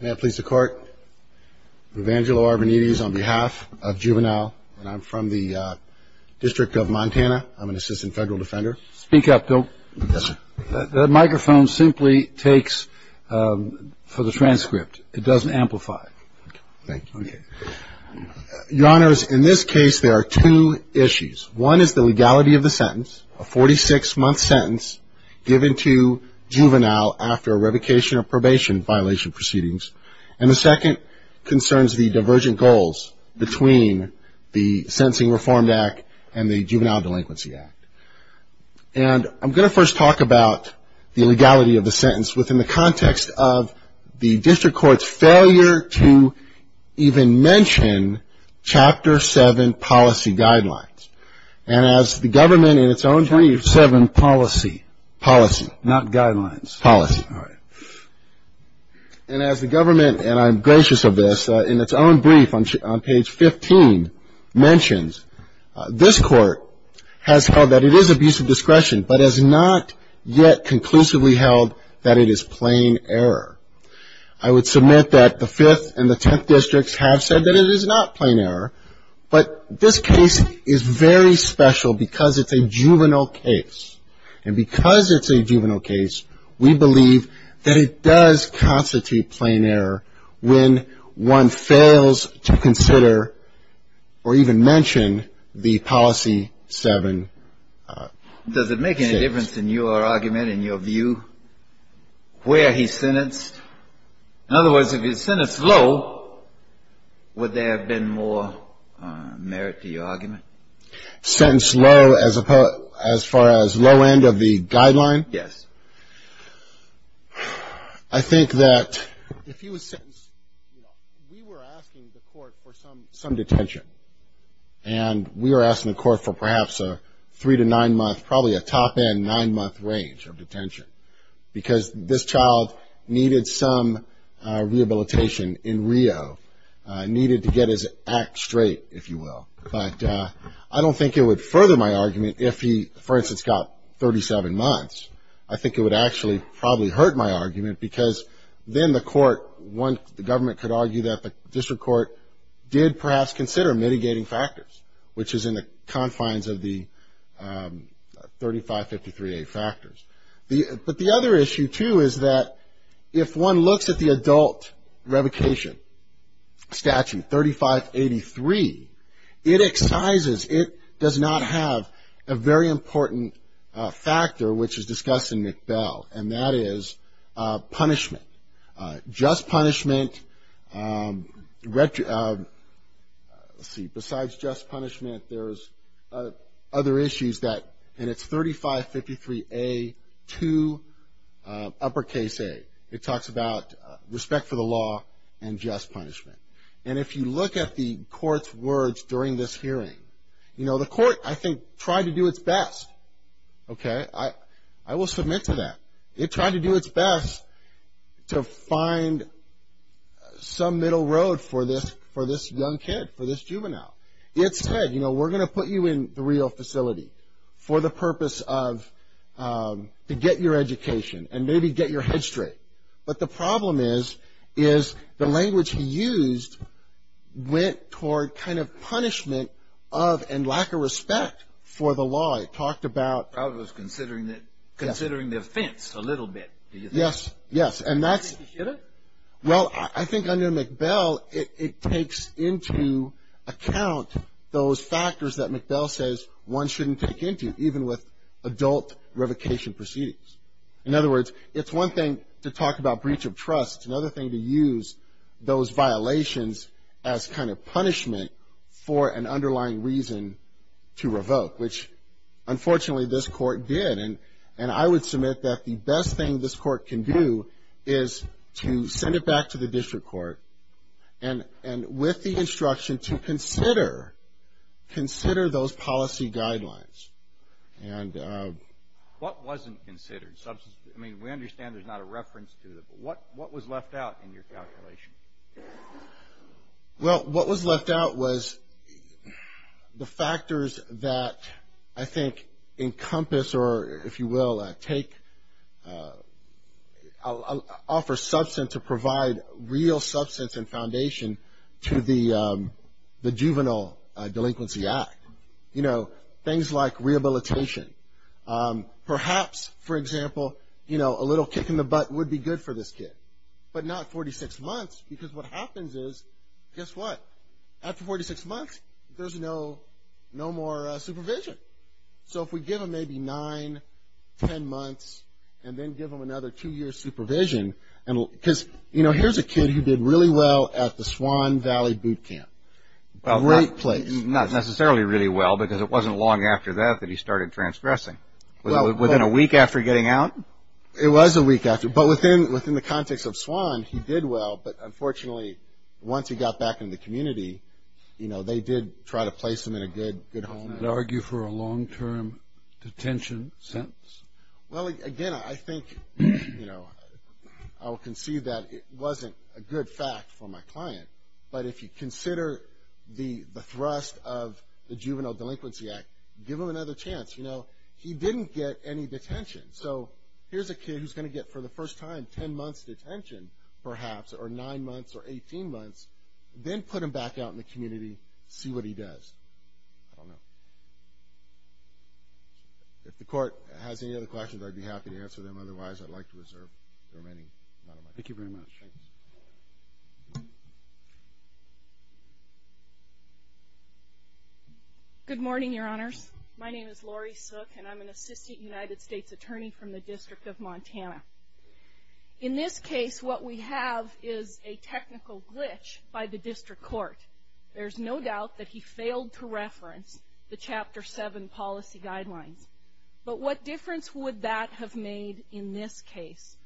May I please the court? Evangelo Arbonides on behalf of Juvenile, and I'm from the District of Montana. I'm an assistant federal defender. Speak up, Bill. Yes, sir. That microphone simply takes for the transcript. It doesn't amplify. Thank you. Okay. Your Honors, in this case, there are two issues. One is the legality of the sentence, a 46-month sentence given to Juvenile after a revocation or probation violation procedure. And the second concerns the divergent goals between the Sentencing Reform Act and the Juvenile Delinquency Act. And I'm going to first talk about the legality of the sentence within the context of the District Court's failure to even mention Chapter 7 policy guidelines. And as the government in its own 27 policy. Policy. Not guidelines. Policy. All right. And as the government, and I'm gracious of this, in its own brief on page 15, mentions, this Court has held that it is abuse of discretion, but has not yet conclusively held that it is plain error. I would submit that the 5th and the 10th Districts have said that it is not plain error, but this case is very special because it's a juvenile case. And because it's a juvenile case, we believe that it is a juvenile case. That it does constitute plain error when one fails to consider or even mention the Policy 7. Does it make any difference in your argument, in your view, where he's sentenced? In other words, if he's sentenced low, would there have been more merit to your argument? Sentenced low as far as low end of the guideline? Yes. I think that if he was sentenced, you know, we were asking the Court for some detention. And we were asking the Court for perhaps a three- to nine-month, probably a top-end nine-month range of detention. Because this child needed some rehabilitation in Rio, needed to get his act straight, if you will. But I don't think it would further my argument if he, for instance, got 37 months. I think it would actually probably hurt my argument because then the Court, the government could argue that the District Court did perhaps consider mitigating factors, which is in the confines of the 3553A factors. But the other issue, too, is that if one looks at the adult revocation statute, 3583, it excises, it does not have a very important factor, which is discussed in McBell, and that is punishment. Just punishment, let's see, besides just punishment, there's other issues that, and it's 3553A2, uppercase A. It talks about respect for the law and just punishment. And if you look at the Court's words during this hearing, you know, the Court, I think, tried to do its best. Okay? I will submit to that. It tried to do its best to find some middle road for this young kid, for this juvenile. It said, you know, we're going to put you in the Rio facility for the purpose of to get your education and maybe get your head straight. But the problem is, is the language he used went toward kind of punishment of and lack of respect for the law. It talked about. Probably was considering the offense a little bit, do you think? Yes. Yes. And that's. Well, I think under McBell, it takes into account those factors that McBell says one shouldn't take into, even with adult revocation proceedings. In other words, it's one thing to talk about breach of trust. Another thing to use those violations as kind of punishment for an underlying reason to revoke. Which, unfortunately, this Court did. And I would submit that the best thing this Court can do is to send it back to the district court and with the instruction to consider those policy guidelines. And. What wasn't considered? I mean, we understand there's not a reference to it. What was left out in your calculation? Well, what was left out was the factors that I think encompass or, if you will, take, offer substance to provide real substance and foundation to the Juvenile Delinquency Act. You know, things like rehabilitation. Perhaps, for example, you know, a little kick in the butt would be good for this kid. But not 46 months, because what happens is, guess what? After 46 months, there's no more supervision. So, if we give him maybe nine, ten months, and then give him another two years supervision. Because, you know, here's a kid who did really well at the Swan Valley Boot Camp. Great place. Not necessarily really well, because it wasn't long after that that he started transgressing. Within a week after getting out? It was a week after. But within the context of Swan, he did well. But, unfortunately, once he got back in the community, you know, they did try to place him in a good home. I would argue for a long-term detention sentence. Well, again, I think, you know, I will concede that it wasn't a good fact for my client. But if you consider the thrust of the Juvenile Delinquency Act, give him another chance. You know, he didn't get any detention. So, here's a kid who's going to get, for the first time, ten months' detention, perhaps, or nine months, or 18 months. Then put him back out in the community, see what he does. I don't know. If the court has any other questions, I'd be happy to answer them. Otherwise, I'd like to reserve the remaining amount of time. Thank you very much. Good morning, Your Honors. My name is Lori Sook, and I'm an Assistant United States Attorney from the District of Montana. In this case, what we have is a technical glitch by the district court. There's no doubt that he failed to reference the Chapter 7 policy guidelines. But what difference would that have made in this case,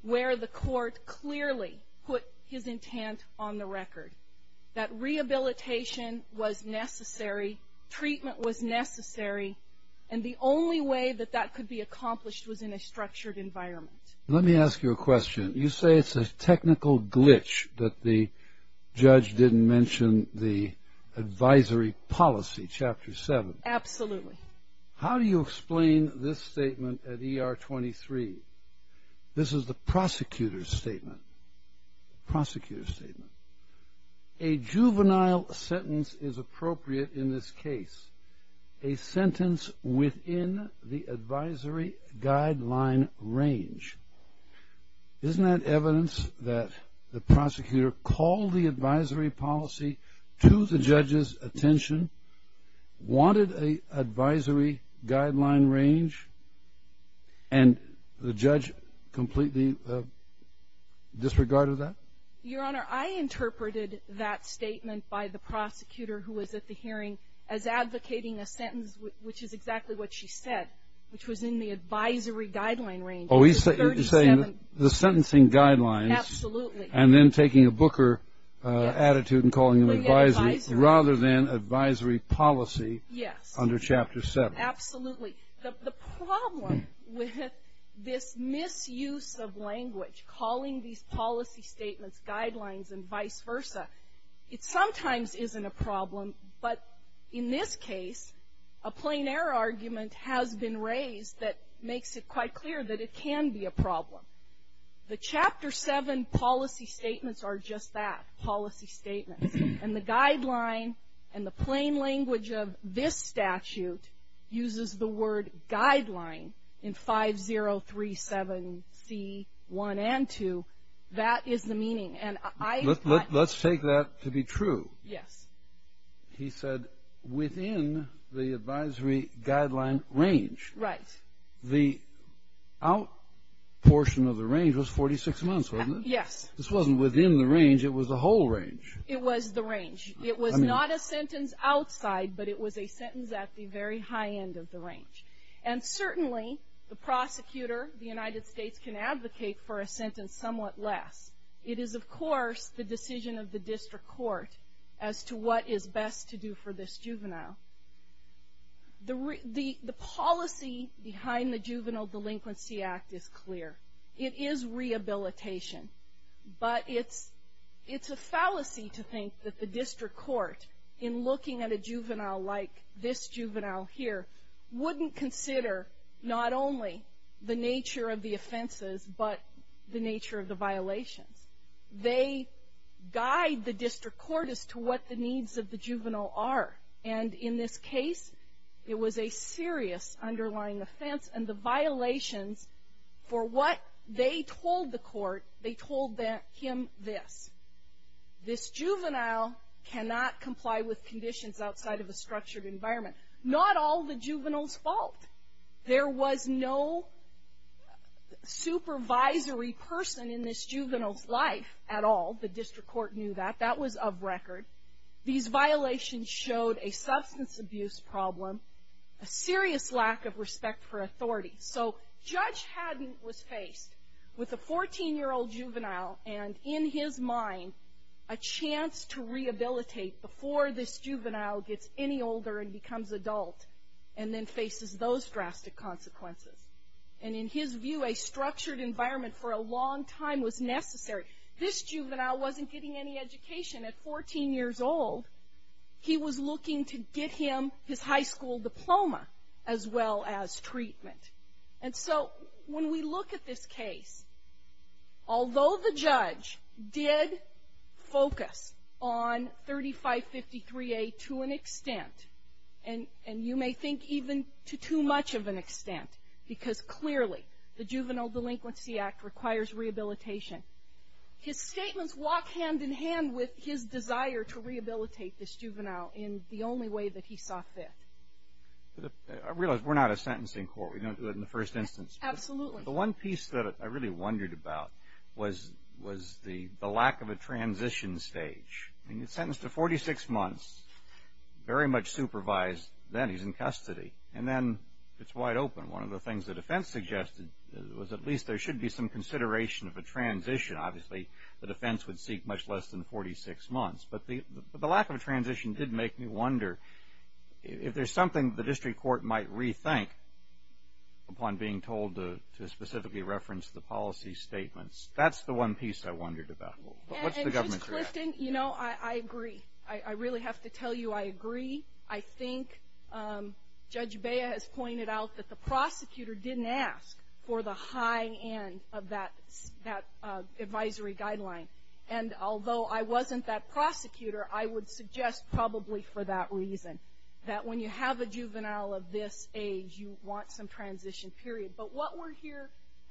where the court clearly put his intent on the record, that rehabilitation was necessary, treatment was necessary, and the only way that that could be accomplished was in a structured environment? Let me ask you a question. You say it's a technical glitch that the judge didn't mention the advisory policy, Chapter 7. Absolutely. How do you explain this statement at ER 23? This is the prosecutor's statement. A juvenile sentence is appropriate in this case, a sentence within the advisory guideline range. Isn't that evidence that the prosecutor called the advisory policy to the judge's attention, wanted an advisory guideline range, and the judge completely disregarded that? Your Honor, I interpreted that statement by the prosecutor who was at the hearing as advocating a sentence, which is exactly what she said, which was in the advisory guideline range. Oh, you're saying the sentencing guidelines. Absolutely. And then taking a Booker attitude and calling them advisory rather than advisory policy under Chapter 7. Absolutely. The problem with this misuse of language, calling these policy statements guidelines and vice versa, it sometimes isn't a problem, but in this case, a plein air argument has been raised that makes it quite clear that it can be a problem. The Chapter 7 policy statements are just that, policy statements. And the guideline and the plain language of this statute uses the word guideline in 5037C1 and 2. That is the meaning. Let's take that to be true. Yes. He said within the advisory guideline range. Right. The out portion of the range was 46 months, wasn't it? Yes. This wasn't within the range. It was the whole range. It was the range. It was not a sentence outside, but it was a sentence at the very high end of the range. And certainly the prosecutor, the United States, can advocate for a sentence somewhat less. It is, of course, the decision of the district court as to what is best to do for this juvenile. The policy behind the Juvenile Delinquency Act is clear. It is rehabilitation, but it's a fallacy to think that the district court, in looking at a juvenile like this juvenile here, wouldn't consider not only the nature of the offenses, but the nature of the violations. They guide the district court as to what the needs of the juvenile are. And in this case, it was a serious underlying offense, and the violations for what they told the court, they told him this. This juvenile cannot comply with conditions outside of a structured environment. Not all the juvenile's fault. There was no supervisory person in this juvenile's life at all. The district court knew that. That was of record. These violations showed a substance abuse problem, a serious lack of respect for authority. So Judge Haddon was faced with a 14-year-old juvenile, and in his mind, a chance to rehabilitate before this juvenile gets any older and becomes adult, and then faces those drastic consequences. And in his view, a structured environment for a long time was necessary. This juvenile wasn't getting any education. At 14 years old, he was looking to get him his high school diploma as well as treatment. And so when we look at this case, although the judge did focus on 3553A to an extent, and you may think even to too much of an extent, because clearly the Juvenile Delinquency Act requires rehabilitation, his statements walk hand in hand with his desire to rehabilitate this juvenile in the only way that he saw fit. I realize we're not a sentencing court. We don't do it in the first instance. Absolutely. The one piece that I really wondered about was the lack of a transition stage. He's sentenced to 46 months, very much supervised. Then he's in custody. And then it's wide open. One of the things the defense suggested was at least there should be some consideration of a transition. Obviously the defense would seek much less than 46 months. But the lack of a transition did make me wonder if there's something the district court might rethink upon being told to specifically reference the policy statements. That's the one piece I wondered about. What's the government's reaction? You know, I agree. I really have to tell you I agree. I think Judge Bea has pointed out that the prosecutor didn't ask for the high end of that advisory guideline. And although I wasn't that prosecutor, I would suggest probably for that reason, that when you have a juvenile of this age, you want some transition period. But what we're here,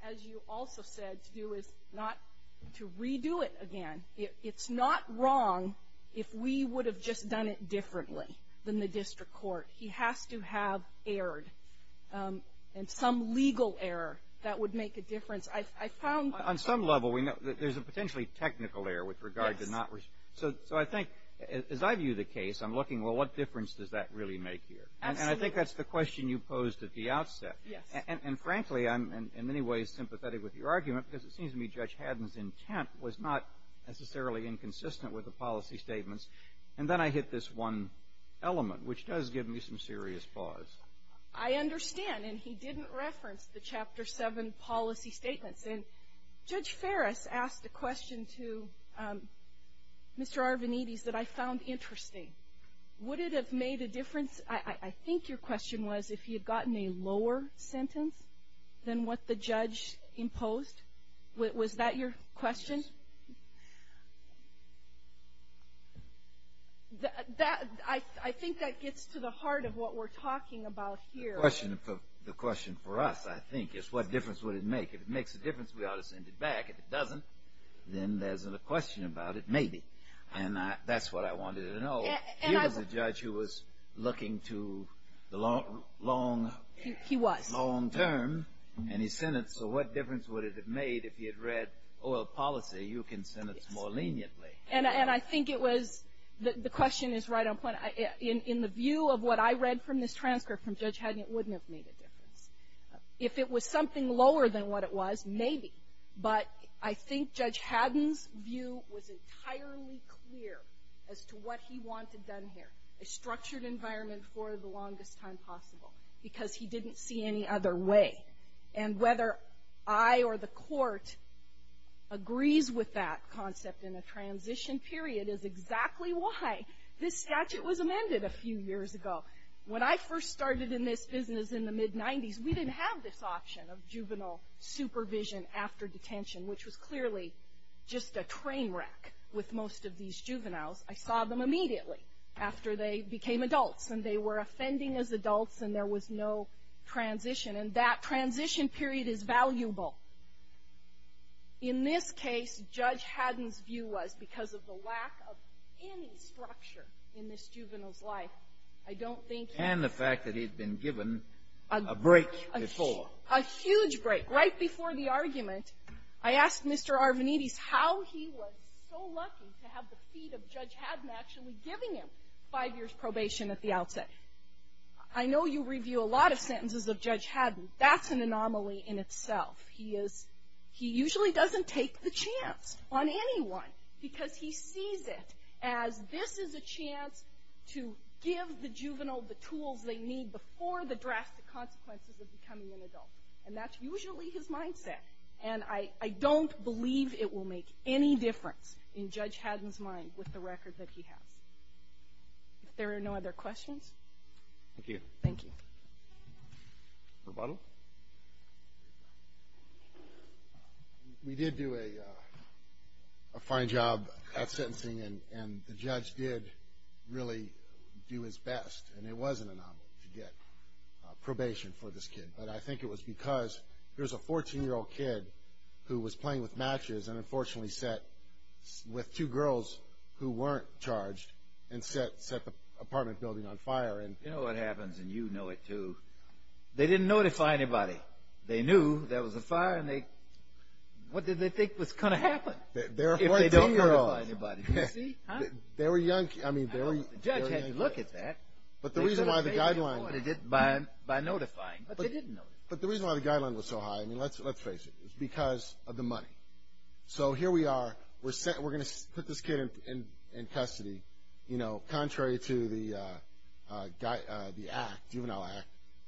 as you also said, to do is not to redo it again. It's not wrong if we would have just done it differently than the district court. He has to have errored, and some legal error that would make a difference. I found that. On some level, we know that there's a potentially technical error with regard to not. So I think as I view the case, I'm looking, well, what difference does that really make here? And I think that's the question you posed at the outset. Yes. And frankly, I'm in many ways sympathetic with your argument because it seems to me Judge Haddon's intent was not necessarily inconsistent with the policy statements. And then I hit this one element, which does give me some serious pause. I understand, and he didn't reference the Chapter 7 policy statements. And Judge Ferris asked a question to Mr. Arvanites that I found interesting. Would it have made a difference, I think your question was, if he had gotten a lower sentence than what the judge imposed? Was that your question? I think that gets to the heart of what we're talking about here. The question for us, I think, is what difference would it make? If it makes a difference, we ought to send it back. If it doesn't, then there's a question about it, maybe. And that's what I wanted to know. He was. So what difference would it have made if he had read oil policy? You can send it more leniently. And I think it was, the question is right on point. In the view of what I read from this transcript from Judge Haddon, it wouldn't have made a difference. If it was something lower than what it was, maybe. But I think Judge Haddon's view was entirely clear as to what he wanted done here, a structured environment for the longest time possible, because he didn't see any other way. And whether I or the court agrees with that concept in a transition period is exactly why this statute was amended a few years ago. When I first started in this business in the mid-'90s, we didn't have this option of juvenile supervision after detention, which was clearly just a train wreck with most of these juveniles. I saw them immediately after they became adults, and they were offending as adults, and there was no transition. And that transition period is valuable. In this case, Judge Haddon's view was, because of the lack of any structure in this juvenile's life, I don't think he was going to be able to do it. And the fact that he had been given a break before. A huge break, right before the argument. I asked Mr. Arvanites how he was so lucky to have the feet of Judge Haddon actually giving him five years' probation at the outset. I know you review a lot of sentences of Judge Haddon. That's an anomaly in itself. He usually doesn't take the chance on anyone, because he sees it as this is a chance to give the juvenile the tools they need before the drastic consequences of becoming an adult. And that's usually his mindset. And I don't believe it will make any difference in Judge Haddon's mind with the record that he has. If there are no other questions. Thank you. Thank you. Rebuttal. We did do a fine job at sentencing, and the judge did really do his best. And it was an anomaly to get probation for this kid. But I think it was because there was a 14-year-old kid who was playing with matches and unfortunately sat with two girls who weren't charged and set the apartment building on fire. You know what happens, and you know it, too. They didn't notify anybody. They knew there was a fire, and what did they think was going to happen? They're 14-year-olds. If they don't notify anybody. You see? They were young kids. The judge had to look at that. But the reason why the guideline was so high, let's face it, was because of the money. So here we are. We're going to put this kid in custody, you know, contrary to the act, juvenile act,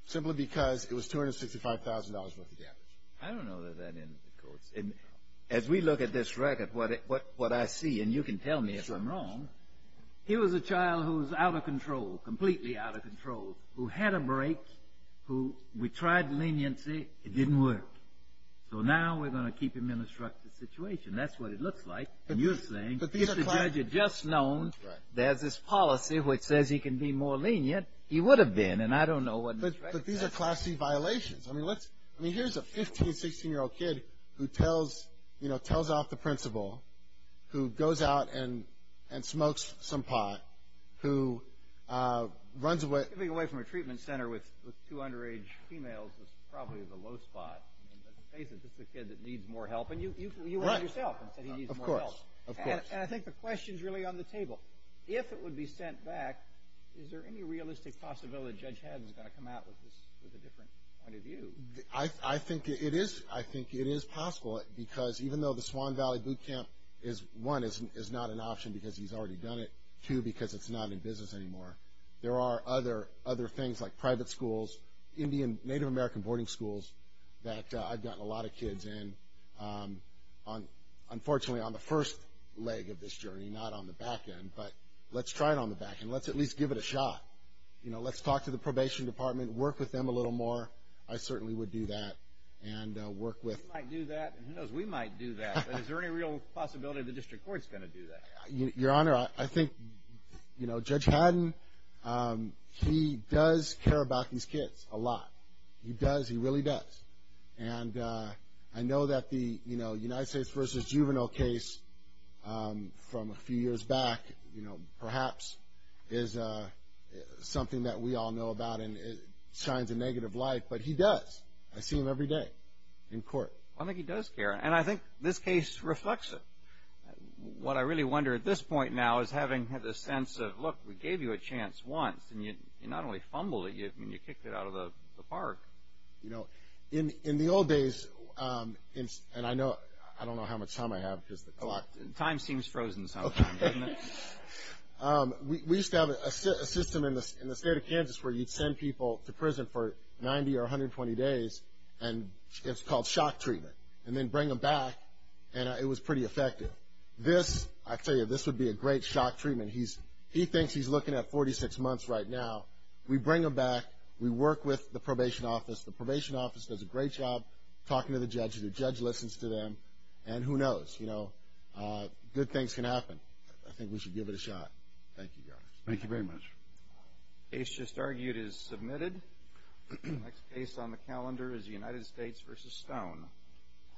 simply because it was $265,000 worth of damage. I don't know that that ends the course. As we look at this record, what I see, and you can tell me if I'm wrong, here was a child who was out of control, completely out of control, who had a break, who we tried leniency. It didn't work. So now we're going to keep him in a structured situation. That's what it looks like. And you're saying, if the judge had just known there's this policy which says he can be more lenient, he would have been, and I don't know what this record says. But these are Class C violations. I mean, here's a 15-, 16-year-old kid who tells off the principal, who goes out and smokes some pot, who runs away. Giving away from a treatment center with two underage females is probably the low spot. In the face of this, it's a kid that needs more help. And you went out yourself and said he needs more help. Of course, of course. And I think the question's really on the table. If it would be sent back, is there any realistic possibility that Judge Haddon is going to come out with a different point of view? I think it is. I think it is possible, because even though the Swan Valley Boot Camp, one, is not an option because he's already done it, two, because it's not in business anymore, there are other things like private schools, Native American boarding schools, that I've gotten a lot of kids in, unfortunately, on the first leg of this journey, not on the back end. But let's try it on the back end. Let's at least give it a shot. You know, let's talk to the probation department, work with them a little more. I certainly would do that and work with them. We might do that, and who knows, we might do that. But is there any real possibility the district court's going to do that? Your Honor, I think, you know, Judge Haddon, he does care about these kids a lot. He does, he really does. And I know that the, you know, United States v. Juvenile case from a few years back, you know, perhaps is something that we all know about and it shines a negative light, but he does. I see him every day in court. I think he does care, and I think this case reflects it. What I really wonder at this point now is having the sense of, look, we gave you a chance once, and you not only fumbled it, you kicked it out of the park. You know, in the old days, and I don't know how much time I have because the clock. Time seems frozen sometimes, doesn't it? We used to have a system in the state of Kansas where you'd send people to prison for 90 or 120 days, and it's called shock treatment, and then bring them back, and it was pretty effective. This, I tell you, this would be a great shock treatment. He thinks he's looking at 46 months right now. We bring them back. We work with the probation office. The probation office does a great job talking to the judges. The judge listens to them, and who knows, you know, good things can happen. I think we should give it a shot. Thank you, Your Honor. Thank you very much. The case just argued is submitted. The next case on the calendar is the United States v. Stone.